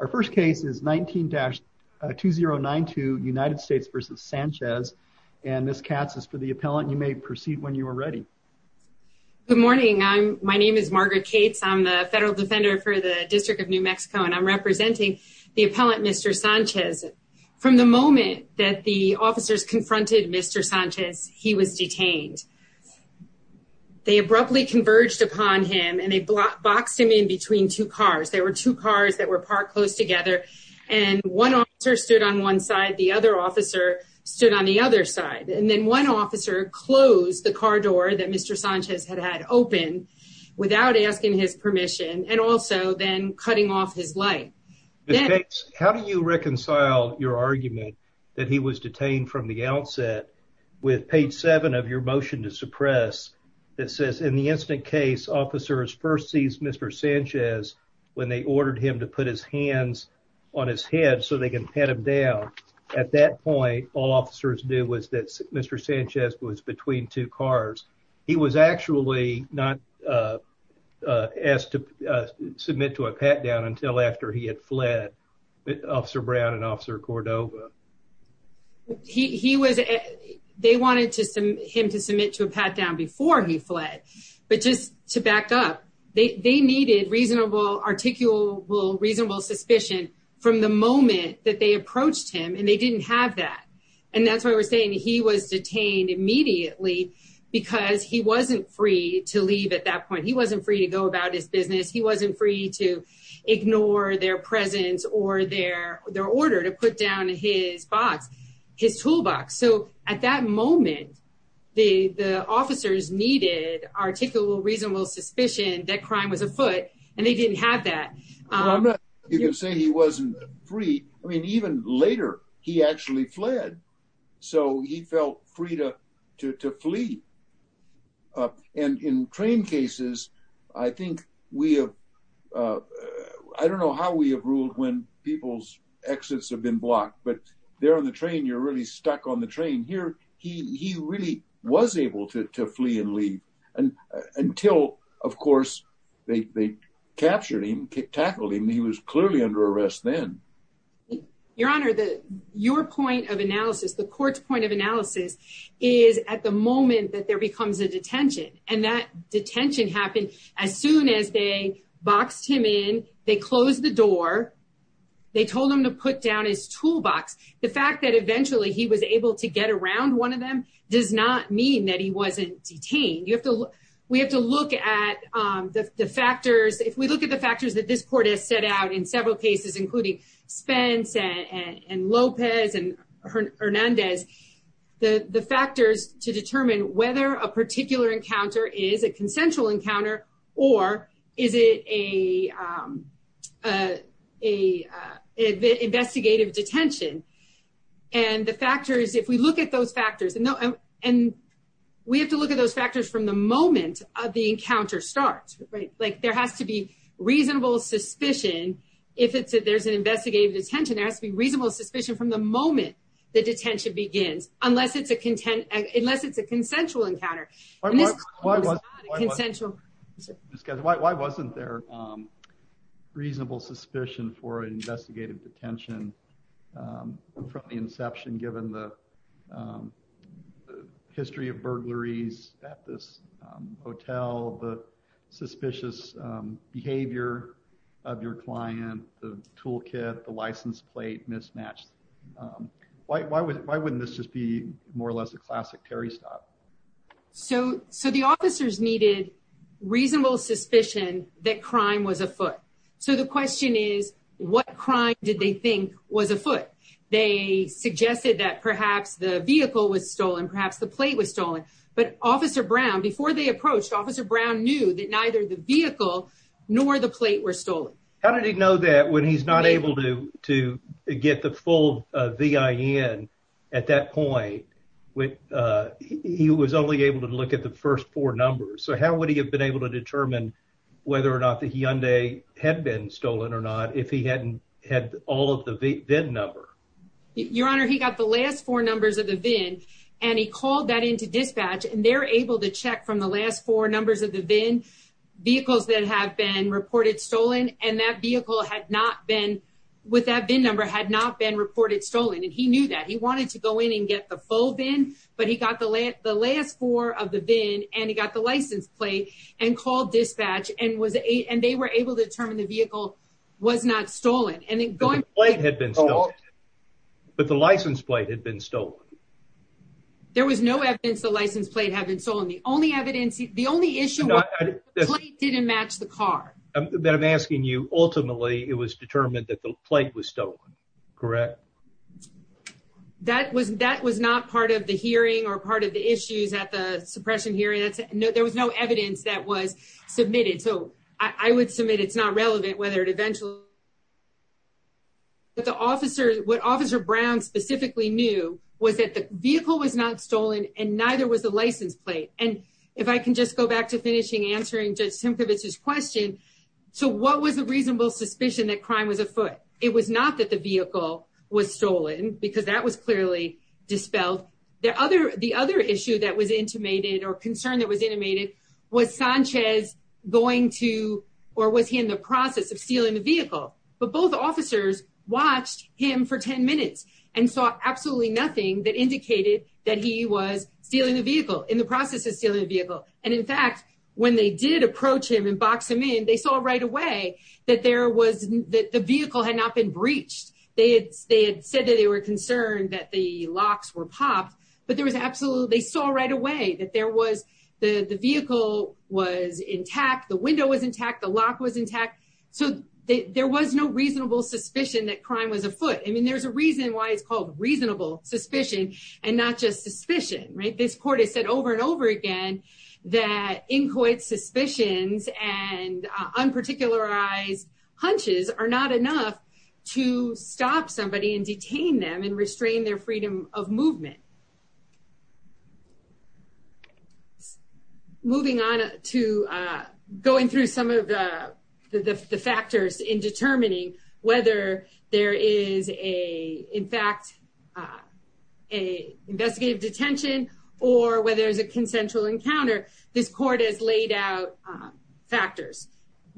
Our first case is 19-2092 United States v. Sanchez, and Ms. Katz is for the appellant. You may proceed when you are ready. Good morning. My name is Margaret Katz. I'm the federal defender for the District of New Mexico, and I'm representing the appellant Mr. Sanchez. From the moment that the officers confronted Mr. Sanchez, he was detained. They abruptly converged upon him, and they boxed him in between two cars. There were two cars that were parked close together, and one officer stood on one side, the other officer stood on the other side. And then one officer closed the car door that Mr. Sanchez had had open without asking his permission and also then cutting off his light. Ms. Katz, how do you reconcile your argument that he was detained from the outset with page seven of your motion to suppress that says, in the incident case, officers first seized Mr. Sanchez when they ordered him to put his hands on his head so they could pat him down. At that point, all officers knew was that Mr. Sanchez was between two cars. He was actually not asked to submit to a pat-down until after he had fled Officer Brown and Officer Cordova. He was, they wanted him to submit to a pat-down before he fled, but just to back up, they needed reasonable, articulable, reasonable suspicion from the moment that they approached him and they didn't have that. And that's why we're saying he was detained immediately because he wasn't free to leave at that point. He wasn't free to go about his business. He wasn't free to ignore their presence or their order to put down his box, his toolbox. So at that moment, the officers needed articulable, reasonable suspicion that crime was afoot and they didn't have that. You can say he wasn't free. I mean, even later, he actually fled. So he felt free to flee. And in train cases, I think we have, I don't know how we have ruled when people's exits have been blocked, but there on the train, you're really stuck on the train. Here, he really was able to flee and leave until, of course, they captured him, tackled him. He was clearly under arrest then. Your Honor, your point of analysis, the court's point of analysis is at the moment that there becomes a detention and that detention happened as soon as they boxed him in, they closed the door, they told him to put down his toolbox. The fact that eventually he was able to get around one of them does not mean that he wasn't detained. We have to look at the factors. If we look at the factors that this court has set out in several cases, including Spence and Lopez and Hernandez, the factors to determine whether a particular encounter is a consensual encounter or is it a investigative detention. And the factors, if we look at those factors and we have to look at those factors from the moment of the encounter starts, there has to be reasonable suspicion if there's an investigative detention, there has to be reasonable suspicion from the moment the detention begins, unless it's a content, unless it's a consensual encounter. Why wasn't there reasonable suspicion for an investigative detention from the inception given the history of burglaries at this hotel, the suspicious behavior of your client, the toolkit, the license plate mismatched? Why wouldn't this just be more or less a classic Terry stop? So the officers needed reasonable suspicion that crime was afoot. So the question is, what crime did they think was afoot? They suggested that perhaps the vehicle was stolen, perhaps the plate was stolen. But Officer Brown, before they approached Officer Brown, knew that neither the vehicle nor the plate were stolen. How did he know that when he's not able to to get the full VIN at that point when he was only able to look at the first four numbers? So how would he have been able to determine whether or not the Hyundai had been stolen or if he hadn't had all of the VIN number? Your Honor, he got the last four numbers of the VIN and he called that into dispatch and they're able to check from the last four numbers of the VIN vehicles that have been reported stolen. And that vehicle had not been with that VIN number, had not been reported stolen. And he knew that he wanted to go in and get the full VIN. But he got the last four of the VIN and he got the license plate and called dispatch and they were able to determine the vehicle was not stolen. And the plate had been stolen, but the license plate had been stolen. There was no evidence the license plate had been stolen. The only evidence, the only issue was the plate didn't match the car. Then I'm asking you, ultimately, it was determined that the plate was stolen, correct? That was that was not part of the hearing or part of the issues at the suppression hearing. There was no evidence that was submitted. So I would submit it's not relevant whether it eventually. But the officers, what Officer Brown specifically knew was that the vehicle was not stolen and neither was the license plate. And if I can just go back to finishing answering Judge Simkovich's question, so what was the reasonable suspicion that crime was afoot? It was not that the vehicle was stolen because that was clearly dispelled. The other the other issue that was intimated or concern that was intimated was Sanchez going to or was he in the process of stealing the vehicle? But both officers watched him for 10 minutes and saw absolutely nothing that indicated that he was stealing the vehicle in the process of stealing the vehicle. And in fact, when they did approach him and box him in, they saw right away that there was that the vehicle had not been breached. They had said that they were concerned that the locks were popped, but there was absolutely they saw right away that there was the vehicle was intact. The window was intact. The lock was intact. So there was no reasonable suspicion that crime was afoot. I mean, there's a reason why it's called reasonable suspicion and not just suspicion. This court has said over and over again that inchoate suspicions and unparticularized hunches are not enough to stop somebody and detain them and restrain their freedom of movement. Moving on to going through some of the factors in determining whether there is a in fact a investigative detention or whether there's a consensual encounter. This court has laid out factors.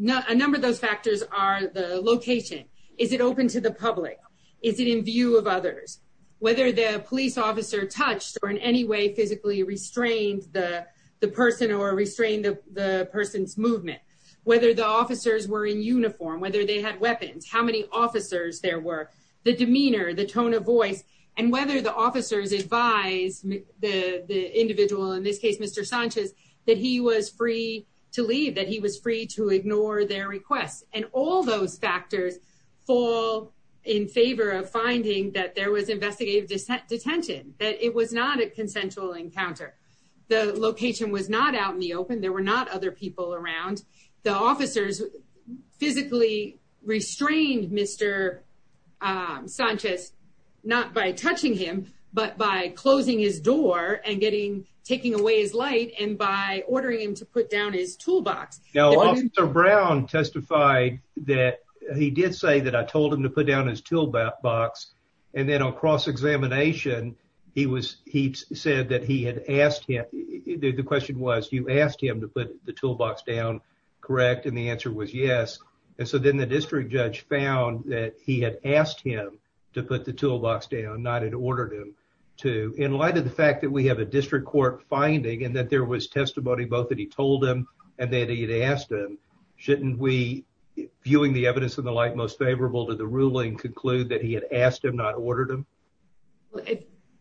A number of those factors are the location. Is it open to the public? Is it in view of others? Whether the police officer touched or in any way physically restrained the person or restrained the person's movement, whether the officers were in uniform, whether they had weapons, how many officers there were, the demeanor, the tone of voice and whether the officers advised the individual, in this case, Mr. Sanchez, that he was free to leave, that he was free to ignore their requests. And all those factors fall in favor of finding that there was investigative detention, that it was not a consensual encounter. The location was not out in the open. There were not other people around. The officers physically restrained Mr. Sanchez, not by touching him, but by closing his door and getting taking away his light and by ordering him to put down his toolbox. Now, Officer Brown testified that he did say that I told him to put down his toolbox. And then on cross-examination, he said that he had asked him, the question was, you asked him to put the toolbox down, correct? And the answer was yes. And so then the district judge found that he had asked him to put the toolbox down, not had ordered him to. In light of the fact that we have a district court finding and that there was testimony both that he told him and that he had asked him, shouldn't we, viewing the evidence in the light most favorable to the ruling, conclude that he had asked him, not ordered him?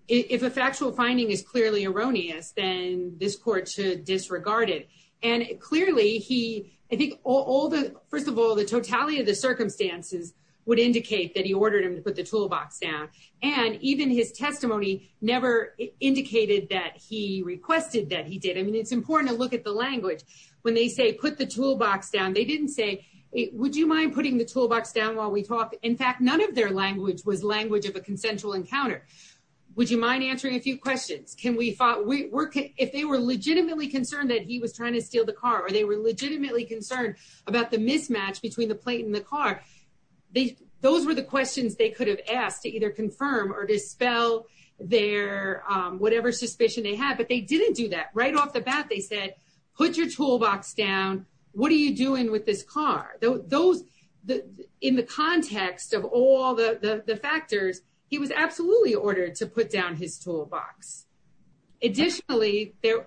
If a factual finding is clearly erroneous, then this court should disregard it. And clearly he, I think all the first of all, the totality of the circumstances would indicate that he ordered him to put the toolbox down. And even his testimony never indicated that he requested that he did. I mean, it's important to look at the language when they say put the toolbox down. They didn't say, would you mind putting the toolbox down while we talk? In fact, none of their language was language of a consensual encounter. Would you mind answering a few questions? Can we, if they were legitimately concerned that he was trying to steal the car or they were legitimately concerned about the mismatch between the plate and the car, those were the questions they could have asked to either confirm or dispel their whatever suspicion they had. But they didn't do that right off the bat. They said, put your toolbox down. What are you doing with this car? Those in the context of all the factors, he was absolutely ordered to put down his toolbox. Additionally, they're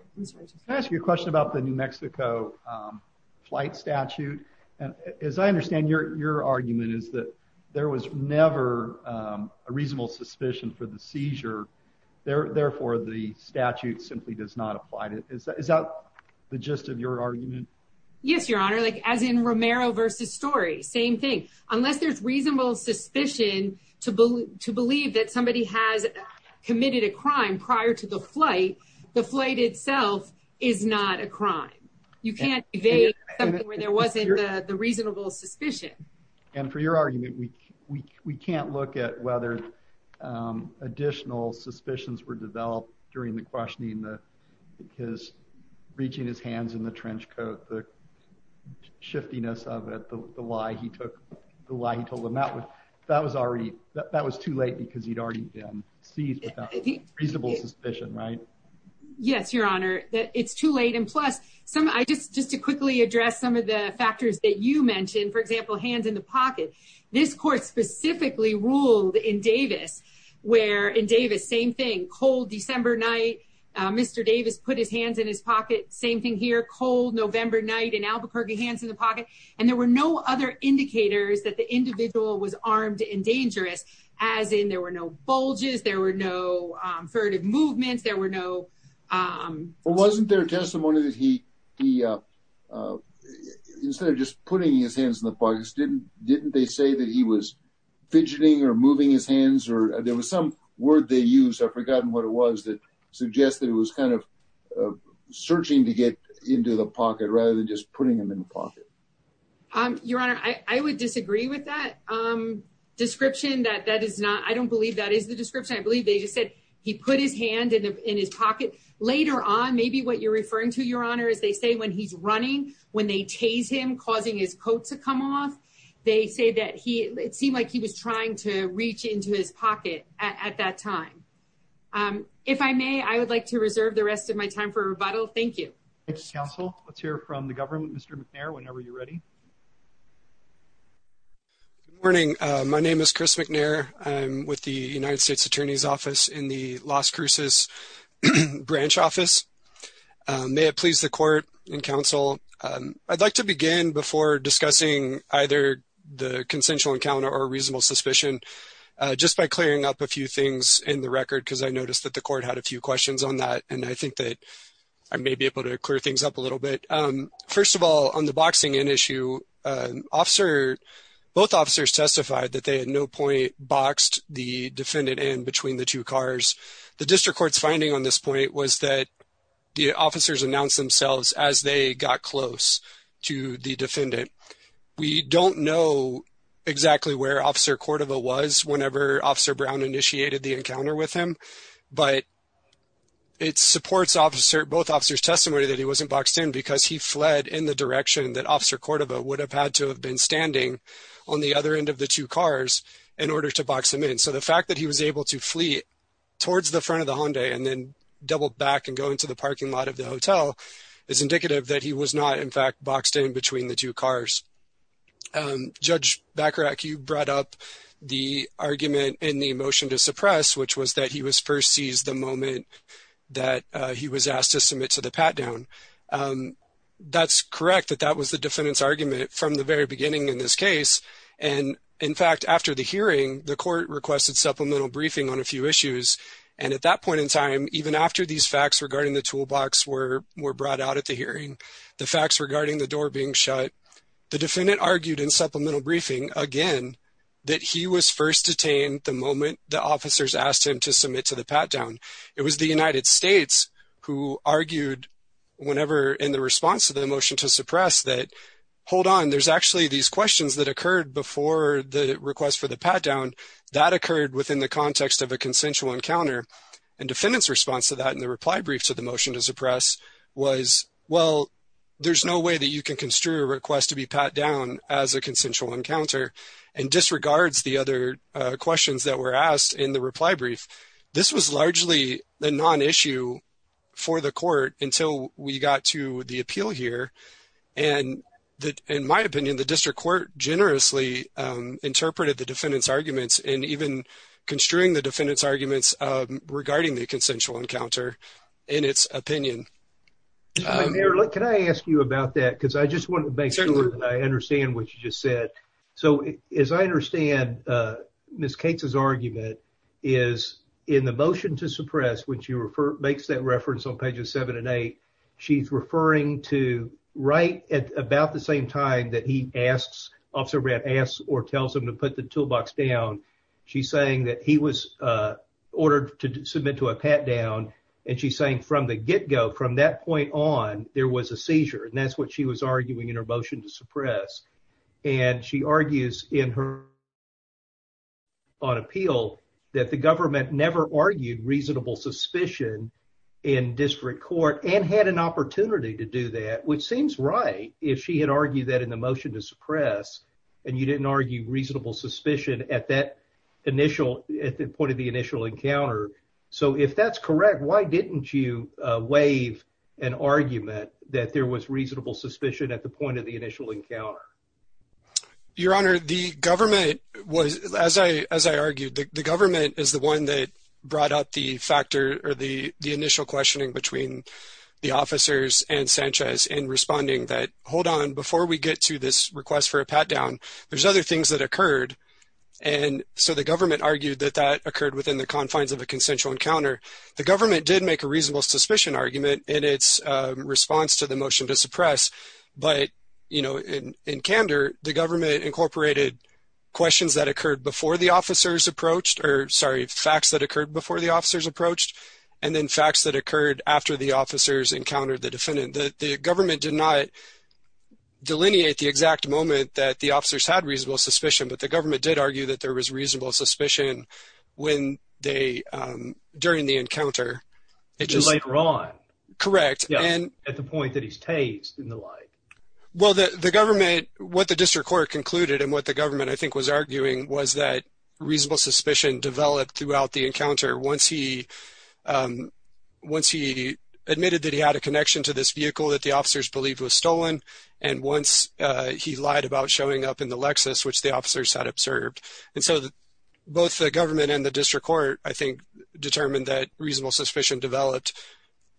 asking a question about the New Mexico flight statute. And as I understand your argument is that there was never a reasonable suspicion for the seizure. Therefore, the statute simply does not apply to is that the gist of your argument? Yes, your honor. Like as in Romero versus story, same thing. Unless there's reasonable suspicion to believe that somebody has committed a crime prior to the flight, the flight itself is not a crime. You can't evade where there wasn't the reasonable suspicion. And for your argument, we can't look at whether additional suspicions were developed during the questioning because reaching his hands in the trench coat, the shiftiness of it, the lie he took, the lie he told them that was already that was too late because he'd already been seized with reasonable suspicion. Right. Yes, your honor. It's too late. And plus some I just just to quickly address some of the factors that you mentioned, for example, hands in the pocket. This court specifically ruled in Davis where in Davis, same thing, cold December night. Mr. Davis put his hands in his pocket. Same thing here, cold November night in Albuquerque, hands in the pocket. And there were no other indicators that the individual was armed and dangerous, as in there were no bulges. There were no furtive movements. There were no. It wasn't their testimony that he he instead of just putting his hands in the pockets, didn't didn't they say that he was fidgeting or moving his hands or there was some word they use? I've forgotten what it was that suggests that it was kind of searching to get into the pocket rather than just putting them in the pocket. Your honor, I would disagree with that description that that is not I don't believe that is the description. I believe they just said he put his hand in. In his pocket later on, maybe what you're referring to, your honor, is they say when he's running, when they chase him, causing his coat to come off, they say that he it seemed like he was trying to reach into his pocket at that time. If I may, I would like to reserve the rest of my time for rebuttal. Thank you, counsel. Let's hear from the government, Mr. McNair, whenever you're ready. Morning, my name is Chris McNair, I'm with the United States Attorney's Office in the Las Cruces branch office. May it please the court and counsel, I'd like to begin before discussing either the consensual encounter or reasonable suspicion just by clearing up a few things in the record, because I noticed that the court had a few questions on that. And I think that I may be able to clear things up a little bit. First of all, on the boxing in issue, officer, both officers testified that they had no point boxed the defendant in between the two cars. The district court's finding on this point was that the officers announced themselves as they got close to the defendant. We don't know exactly where officer Cordova was whenever officer Brown initiated the encounter with him, but it supports officer, both officers testimony that he wasn't boxed in because he fled in the direction that officer Cordova would have had to have been standing on the other end of the two cars in order to box him in. So the fact that he was able to flee towards the front of the Hyundai and then double back and go into the parking lot of the hotel is indicative that he was not, in fact, boxed in between the two cars. Judge Bacharach, you brought up the argument in the motion to suppress, which was that he was first seized the moment that he was asked to submit to the pat down. Um, that's correct, that that was the defendant's argument from the very beginning in this case. And in fact, after the hearing, the court requested supplemental briefing on a few issues. And at that point in time, even after these facts regarding the toolbox were were brought out at the hearing, the facts regarding the door being shut, the defendant argued in supplemental briefing again that he was first detained the moment the officers asked him to submit to the pat down. It was the United States who argued whenever in the response to the motion to suppress that, hold on, there's actually these questions that occurred before the request for the pat down that occurred within the context of a consensual encounter. And defendant's response to that in the reply brief to the motion to suppress was, well, there's no way that you can construe a request to be pat down as a consensual encounter and disregards the other questions that were asked in the reply brief, which was largely the non issue for the court until we got to the appeal here. And that, in my opinion, the district court generously interpreted the defendant's arguments and even construing the defendant's arguments regarding the consensual encounter in its opinion. Mayor, can I ask you about that? Because I just want to make sure that I understand what you just said. So, as I understand, Ms. Cates' argument is in the motion to suppress, when she makes that reference on pages seven and eight, she's referring to right at about the same time that he asks, Officer Brandt asks or tells him to put the toolbox down. She's saying that he was ordered to submit to a pat down. And she's saying from the get go, from that point on, there was a seizure. And that's what she was arguing in her motion to suppress. And she argues in her on appeal that the government never argued reasonable suspicion in district court and had an opportunity to do that, which seems right if she had argued that in the motion to suppress and you didn't argue reasonable suspicion at that initial, at the point of the initial encounter. So if that's correct, why didn't you waive an argument that there was reasonable suspicion at the point of the initial encounter? Your Honor, the government was, as I, as I argued, the government is the one that brought up the factor or the initial questioning between the officers and Sanchez in responding that, hold on, before we get to this request for a pat down, there's other things that occurred. And so the government argued that that occurred within the confines of a consensual encounter. The government did make a reasonable suspicion argument in its response to the the government incorporated questions that occurred before the officers approached or sorry, facts that occurred before the officers approached and then facts that occurred after the officers encountered the defendant, that the government did not delineate the exact moment that the officers had reasonable suspicion, but the government did argue that there was reasonable suspicion when they, um, during the encounter. It just later on, correct. And at the point that he's tased in the light. Well, the, the government, what the district court concluded and what the government I think was arguing was that reasonable suspicion developed throughout the encounter. Once he, um, once he admitted that he had a connection to this vehicle that the officers believe was stolen. And once, uh, he lied about showing up in the Lexus, which the officers had observed. And so both the government and the district court, I think determined that reasonable suspicion developed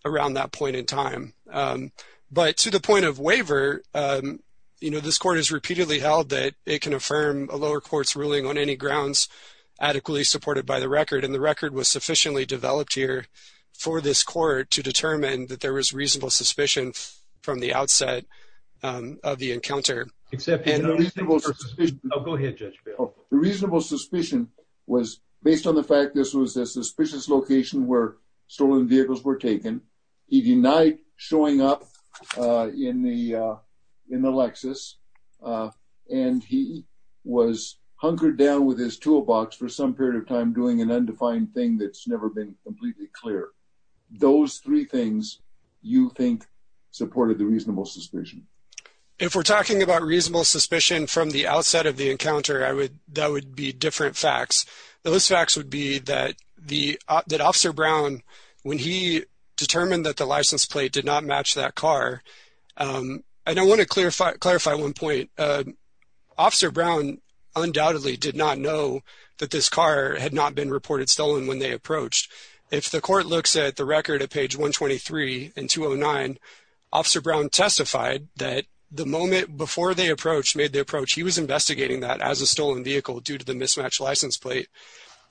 around that point in time. Um, but to the point of waiver, um, you know, this court has repeatedly held that it can affirm a lower court's ruling on any grounds adequately supported by the record. And the record was sufficiently developed here for this court to determine that there was reasonable suspicion from the outset, um, of the encounter. Except the reasonable suspicion was based on the fact that this was a suspicious location where stolen vehicles were taken. He denied showing up, uh, in the, uh, in the Lexus, uh, and he was hunkered down with his toolbox for some period of time doing an undefined thing. That's never been completely clear. Those three things you think supported the reasonable suspicion. If we're talking about reasonable suspicion from the outset of the encounter, I would, that would be different facts. Those facts would be that the, uh, that officer Brown, when he determined that the license plate did not match that car, um, I don't want to clarify, clarify one point, uh, officer Brown undoubtedly did not know that this car had not been reported stolen when they approached. If the court looks at the record at page 1 23 and 2 0 9, officer Brown testified that the moment before they approached, made the approach, he was investigating that as a stolen vehicle due to the mismatch license plate.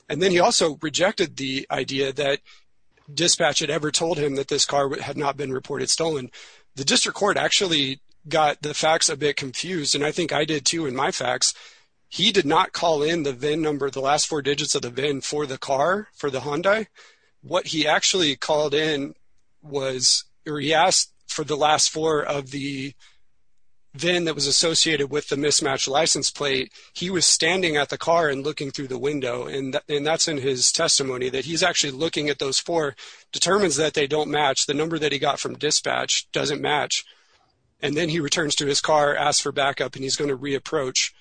And then he also rejected the idea that dispatch had ever told him that this car had not been reported stolen. The district court actually got the facts a bit confused. And I think I did too. And my facts, he did not call in the VIN number, the last four digits of the VIN for the car, for the Hyundai. What he actually called in was, or he asked for the last four of the VIN that was associated with the mismatch license plate, he was standing at the car and looking through the window. And that's in his testimony that he's actually looking at those four determines that they don't match the number that he got from dispatch doesn't match, and then he returns to his car, asked for backup and he's going to re-approach,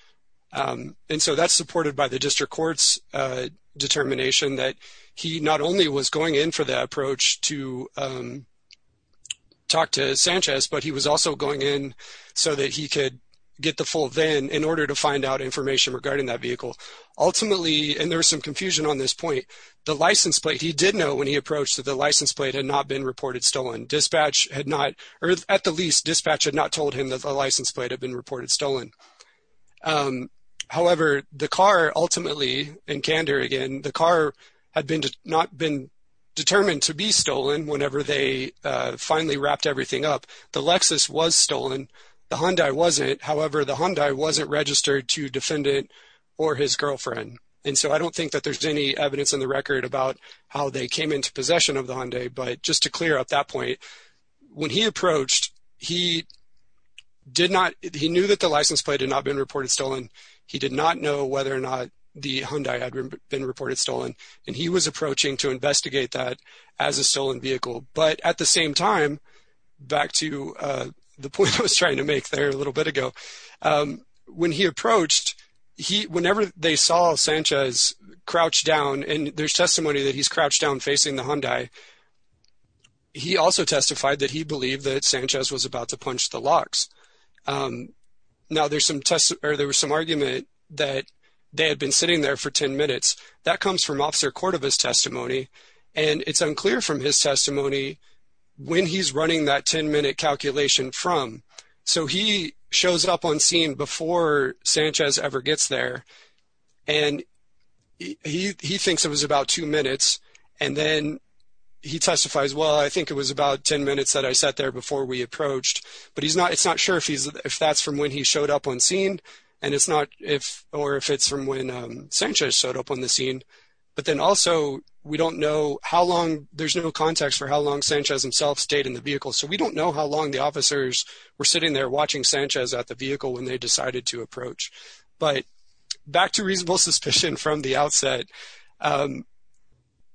um, and so that's supported by the district court's, uh, determination that he not only was going in for the approach to, um, talk to Sanchez, but he was also going in so that he could get the full VIN in order to find out information regarding that vehicle. Ultimately, and there was some confusion on this point, the license plate, he did know when he approached that the license plate had not been reported stolen, dispatch had not, or at the least dispatch had not told him that the license plate had been reported stolen. Um, however, the car ultimately in Kander again, the car had been, not been determined to be stolen whenever they, uh, finally wrapped everything up. The Lexus was stolen. The Hyundai wasn't, however, the Hyundai wasn't registered to defendant or his girlfriend. And so I don't think that there's any evidence in the record about how they came into possession of the Hyundai, but just to clear up that point, when he approached, he did not, he knew that the license plate had not been reported stolen, he did not know whether or not the Hyundai had been reported stolen. And he was approaching to investigate that as a stolen vehicle, but at the same time, back to, uh, the point I was trying to make there a little bit ago, um, when he approached, he, whenever they saw Sanchez crouch down and there's testimony that he's crouched down facing the Hyundai, he also testified that he believed that Sanchez was about to punch the locks. Um, now there's some tests or there was some argument that they had been sitting there for 10 minutes. That comes from officer Cordova's testimony. And it's unclear from his testimony when he's running that 10 minute calculation from, so he shows up on scene before Sanchez ever gets there and he, he thinks it was about two minutes and then he testifies, well, I think it was about 10 minutes that I sat there before we approached, but he's not, it's not sure if he's, if that's from when he showed up on scene and it's not, if, or if it's from when, um, Sanchez showed up on the scene, but then also we don't know how long, there's no context for how long Sanchez himself stayed in the vehicle. So we don't know how long the officers were sitting there watching Sanchez at the vehicle when they decided to approach, but back to reasonable suspicion from the outset, um,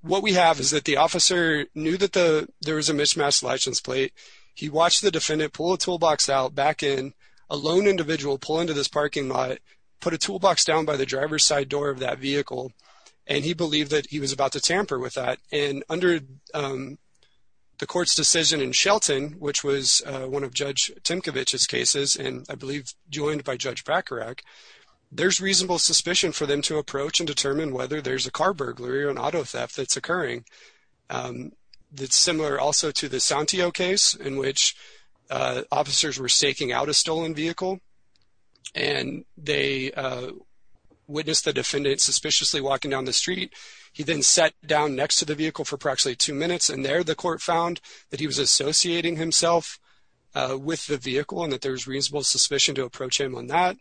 what we have is that the officer knew that the, there was a mismatch license plate. He watched the defendant pull a toolbox out back in a lone individual pull into this parking lot, put a toolbox down by the driver's side door of that vehicle, and he believed that he was about to tamper with that. And under, um, the court's decision in Shelton, which was, uh, one of judge Timkovich's cases, and I believe joined by judge Bacarach, there's reasonable suspicion for them to approach and determine whether there's a car burglary or an auto theft that's occurring. Um, that's similar also to the Santiago case in which, uh, officers were staking out a stolen vehicle. And they, uh, witnessed the defendant suspiciously walking down the street. He then sat down next to the vehicle for practically two minutes. And there, the court found that he was associating himself, uh, with the vehicle and that there was reasonable suspicion to approach him on that.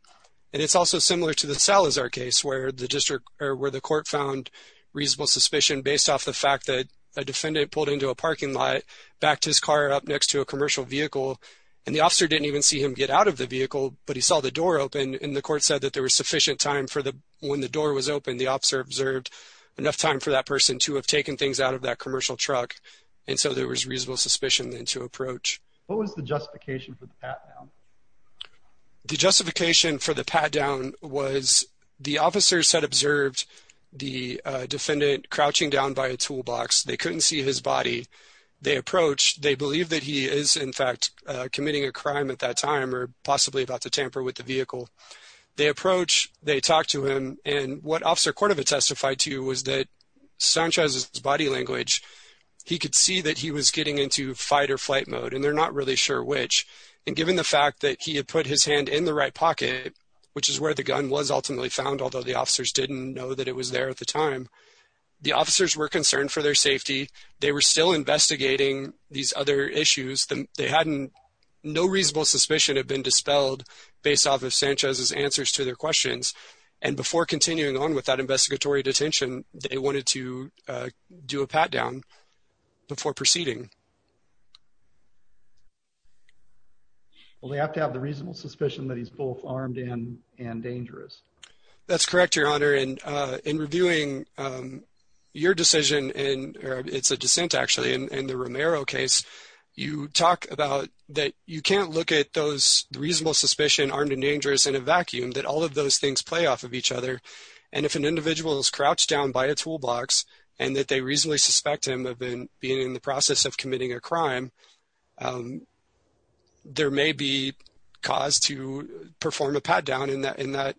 And it's also similar to the Salazar case where the district or where the court found reasonable suspicion based off the fact that a defendant pulled into a parking lot, backed his car up next to a commercial vehicle, and the officer didn't even see him get out of the vehicle, but he saw the door open. And the court said that there was sufficient time for the, when the door was open, the officer observed enough time for that person to have taken things out of that commercial truck. And so there was reasonable suspicion then to approach. What was the justification for the pat down? The justification for the pat down was the officers had observed the, uh, defendant crouching down by a toolbox. They couldn't see his body. They approached, they believe that he is in fact, uh, committing a crime at that time, or possibly about to tamper with the vehicle. They approach, they talked to him. And what officer Cordova testified to was that Sanchez's body language, he could see that he was getting into fight or flight mode, and they're not really sure which, and given the fact that he had put his hand in the right pocket, which is where the gun was ultimately found, although the officers didn't know that it was there at the time, the officers were concerned for their safety. They were still investigating these other issues. They hadn't, no reasonable suspicion had been dispelled based off of Sanchez's answers to their questions. And before continuing on with that investigatory detention, they wanted to do a pat down before proceeding. Well, they have to have the reasonable suspicion that he's both armed and dangerous. That's correct, your honor. And, uh, in reviewing, um, your decision and, or it's a dissent actually, in the Romero case, you talk about that you can't look at those reasonable suspicion, armed and dangerous in a vacuum, that all of those things play off of each other. And if an individual is crouched down by a toolbox and that they reasonably suspect him of being in the process of committing a crime, um, there may be cause to perform a pat down in that, in that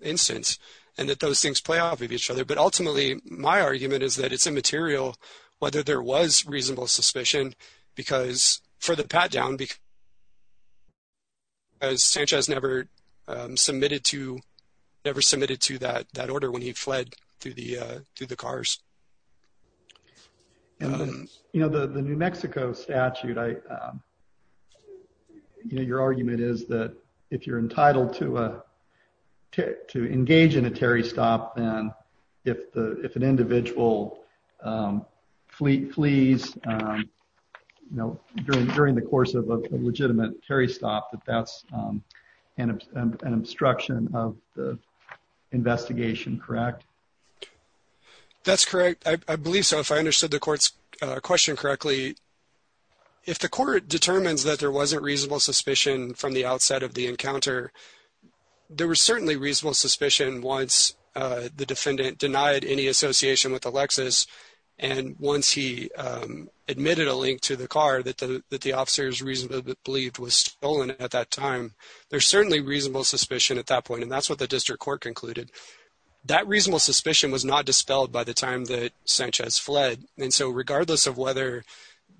instance. And that those things play off of each other. But ultimately my argument is that it's immaterial whether there was reasonable suspicion because for the pat down, because Sanchez never, um, submitted to, never submitted to that, that order when he fled through the, uh, through the cars, you know, the, the New Mexico statute, I, um, you know, your reasoning is that if an individual, um, flees, um, you know, during, during the course of a legitimate Terry stop, that that's, um, an obstruction of the investigation, correct? That's correct. I believe so. If I understood the court's question correctly, if the court determines that there wasn't reasonable suspicion from the outset of the encounter, there was certainly reasonable suspicion. Once, uh, the defendant denied any association with Alexis. And once he, um, admitted a link to the car that the, that the officers reasonably believed was stolen at that time, there's certainly reasonable suspicion at that point. And that's what the district court concluded. That reasonable suspicion was not dispelled by the time that Sanchez fled. And so regardless of whether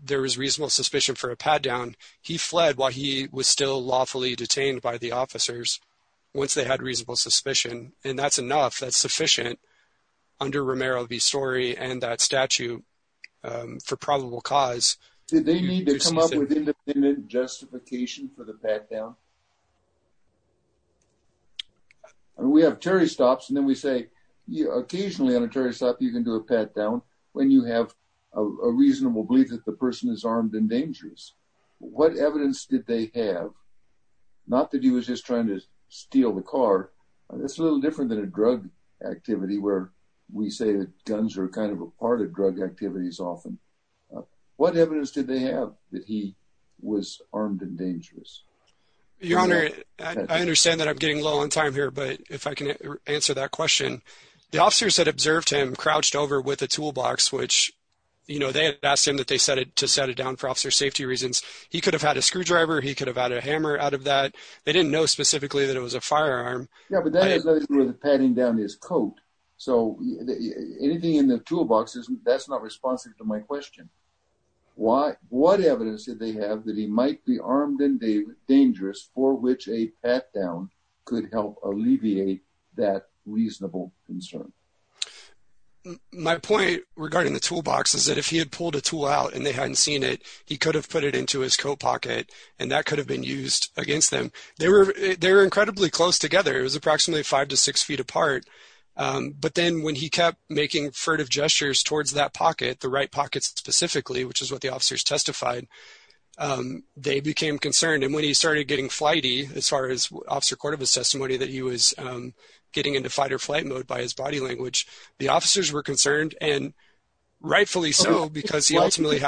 there was reasonable suspicion for a pat down, he had reasonable suspicion and that's enough, that's sufficient under Romero the story and that statute, um, for probable cause, did they need to come up with independent justification for the pat down and we have Terry stops. And then we say, yeah, occasionally on a Terry stop, you can do a pat down when you have a reasonable belief that the person is armed and dangerous. What evidence did they have? Not that he was just trying to steal the car. That's a little different than a drug activity where we say that guns are kind of a part of drug activities. Often. What evidence did they have that he was armed and dangerous? Your honor, I understand that I'm getting low on time here, but if I can answer that question, the officers that observed him crouched over with a toolbox, which. You know, they asked him that they set it to set it down for officer safety reasons, he could have had a screwdriver. He could have had a hammer out of that. They didn't know specifically that it was a firearm. Yeah. But that is the padding down his coat. So anything in the toolbox isn't, that's not responsive to my question. Why, what evidence did they have that he might be armed and dangerous for which a pat down could help alleviate that reasonable concern? My point regarding the toolbox is that if he had pulled a tool out and they hadn't seen it, he could have put it into his coat pocket and that could have been used against them. They were, they were incredibly close together. It was approximately five to six feet apart. Um, but then when he kept making furtive gestures towards that pocket, the right pockets specifically, which is what the officers testified, um, they became concerned and when he started getting flighty, as far as officer court of his testimony that he was, um, getting into fight or flight mode by his body language, the officers were concerned and rightfully so, because he ultimately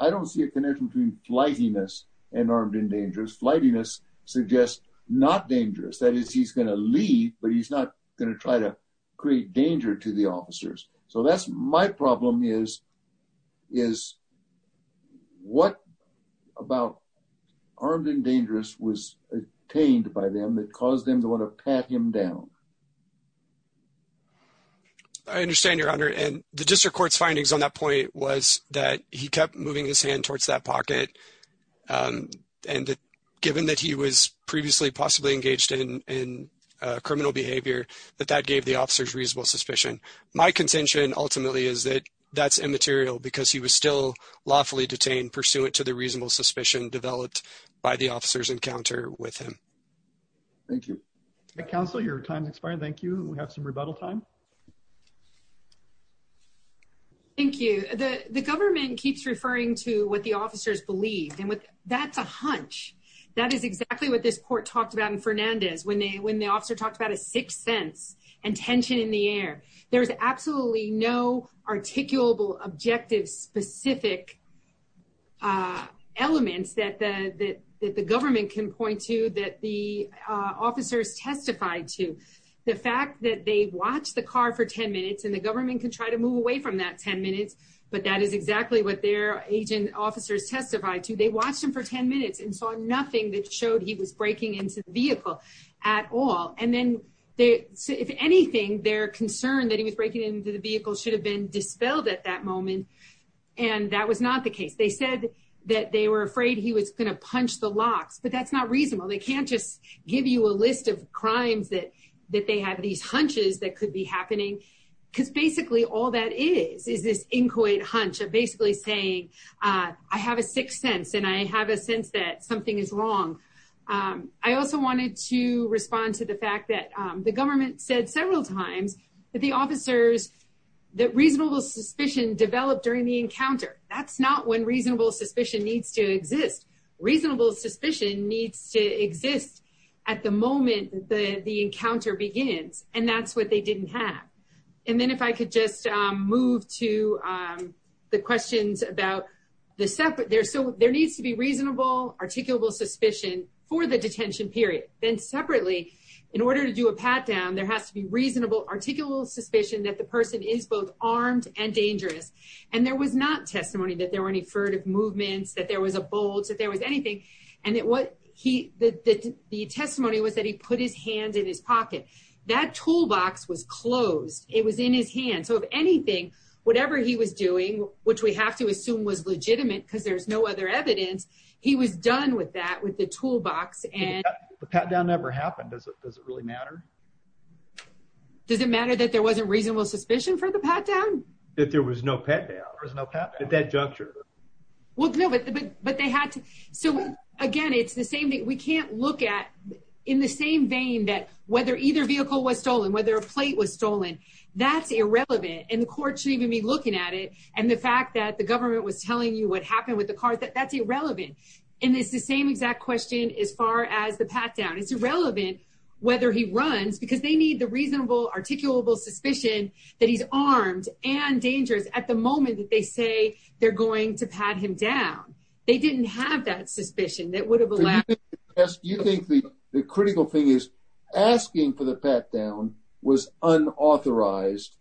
I don't see a connection between flightiness and armed and dangerous flightiness suggest not dangerous. That is, he's going to leave, but he's not going to try to create danger to the officers. So that's my problem is, is what about armed and dangerous was obtained by them that caused them to want to pat him down? I understand your honor. And the district court's findings on that point was that he kept moving his hand towards that pocket. Um, and given that he was previously possibly engaged in, in, uh, criminal behavior, that that gave the officers reasonable suspicion. My contention ultimately is that that's immaterial because he was still lawfully detained pursuant to the reasonable suspicion developed by the officers encounter with him. Thank you. Counsel, your time expired. Thank you. We have some rebuttal time. Thank you. The, the government keeps referring to what the officers believed and what that's a hunch. That is exactly what this court talked about in Fernandez. When they, when the officer talked about a sixth sense and tension in the air, there was absolutely no articulable objective specific, uh, elements that the, that, that the government can point to that the, uh, officers testified to the fact that they watch the car for 10 minutes and the government can try to move away from that 10 minutes. But that is exactly what their agent officers testified to. They watched him for 10 minutes and saw nothing that showed he was breaking into the vehicle at all. And then they, if anything, their concern that he was breaking into the vehicle should have been dispelled at that moment. And that was not the case. They said that they were afraid he was going to punch the locks, but that's not reasonable. They can't just give you a list of crimes that, that they have these happening because basically all that is, is this inchoate hunch of basically saying, uh, I have a sixth sense and I have a sense that something is wrong. Um, I also wanted to respond to the fact that, um, the government said several times that the officers. That reasonable suspicion developed during the encounter. That's not when reasonable suspicion needs to exist. Reasonable suspicion needs to exist at the moment that the encounter begins. And that's what they didn't have. And then if I could just, um, move to, um, the questions about the separate there, so there needs to be reasonable, articulable suspicion for the detention period, then separately in order to do a pat down, there has to be reasonable, articulable suspicion that the person is both armed and dangerous. And there was not testimony that there were any furtive movements, that there was a bolt, that there was anything. And that what he, that the testimony was that he put his hand in his pocket. That toolbox was closed. It was in his hand. So if anything, whatever he was doing, which we have to assume was legitimate because there's no other evidence, he was done with that, with the toolbox. And the pat down never happened. Does it, does it really matter? Does it matter that there wasn't reasonable suspicion for the pat down? If there was no pat down, there was no pat down at that juncture. Well, no, but, but, but they had to. So again, it's the same thing. We can't look at in the same vein that whether either vehicle was stolen, whether a plate was stolen, that's irrelevant. And the court should even be looking at it. And the fact that the government was telling you what happened with the car, that that's irrelevant. And it's the same exact question. As far as the pat down, it's irrelevant whether he runs because they need the reasonable articulable suspicion that he's armed and dangerous at the moment that they say they're going to pat him down, they didn't have that suspicion that would have allowed. You think the, the critical thing is asking for the pat down was unauthorized.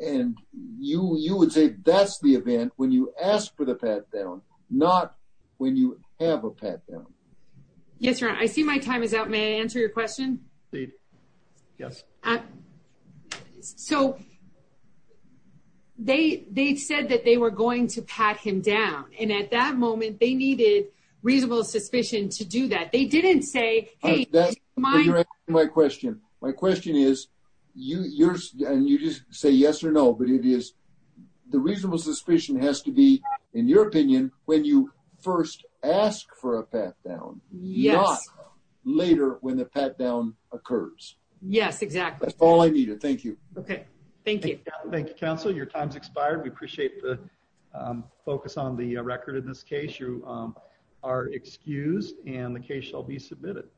And you, you would say that's the event when you ask for the pat down, not when you have a pat down. Yes, sir. I see my time is out. May I answer your question? Yes. So they, they said that they were going to pat him down. And at that moment they needed reasonable suspicion to do that. They didn't say, Hey, my question, my question is you yours and you just say yes or no, but it is the reasonable suspicion has to be in your opinion. When you first ask for a pat down later when the pat down occurs. Yes, exactly. That's all I needed. Thank you. Okay. Thank you. Thank you, counsel. Your time's expired. We appreciate the focus on the record in this case. You are excused and the case shall be submitted.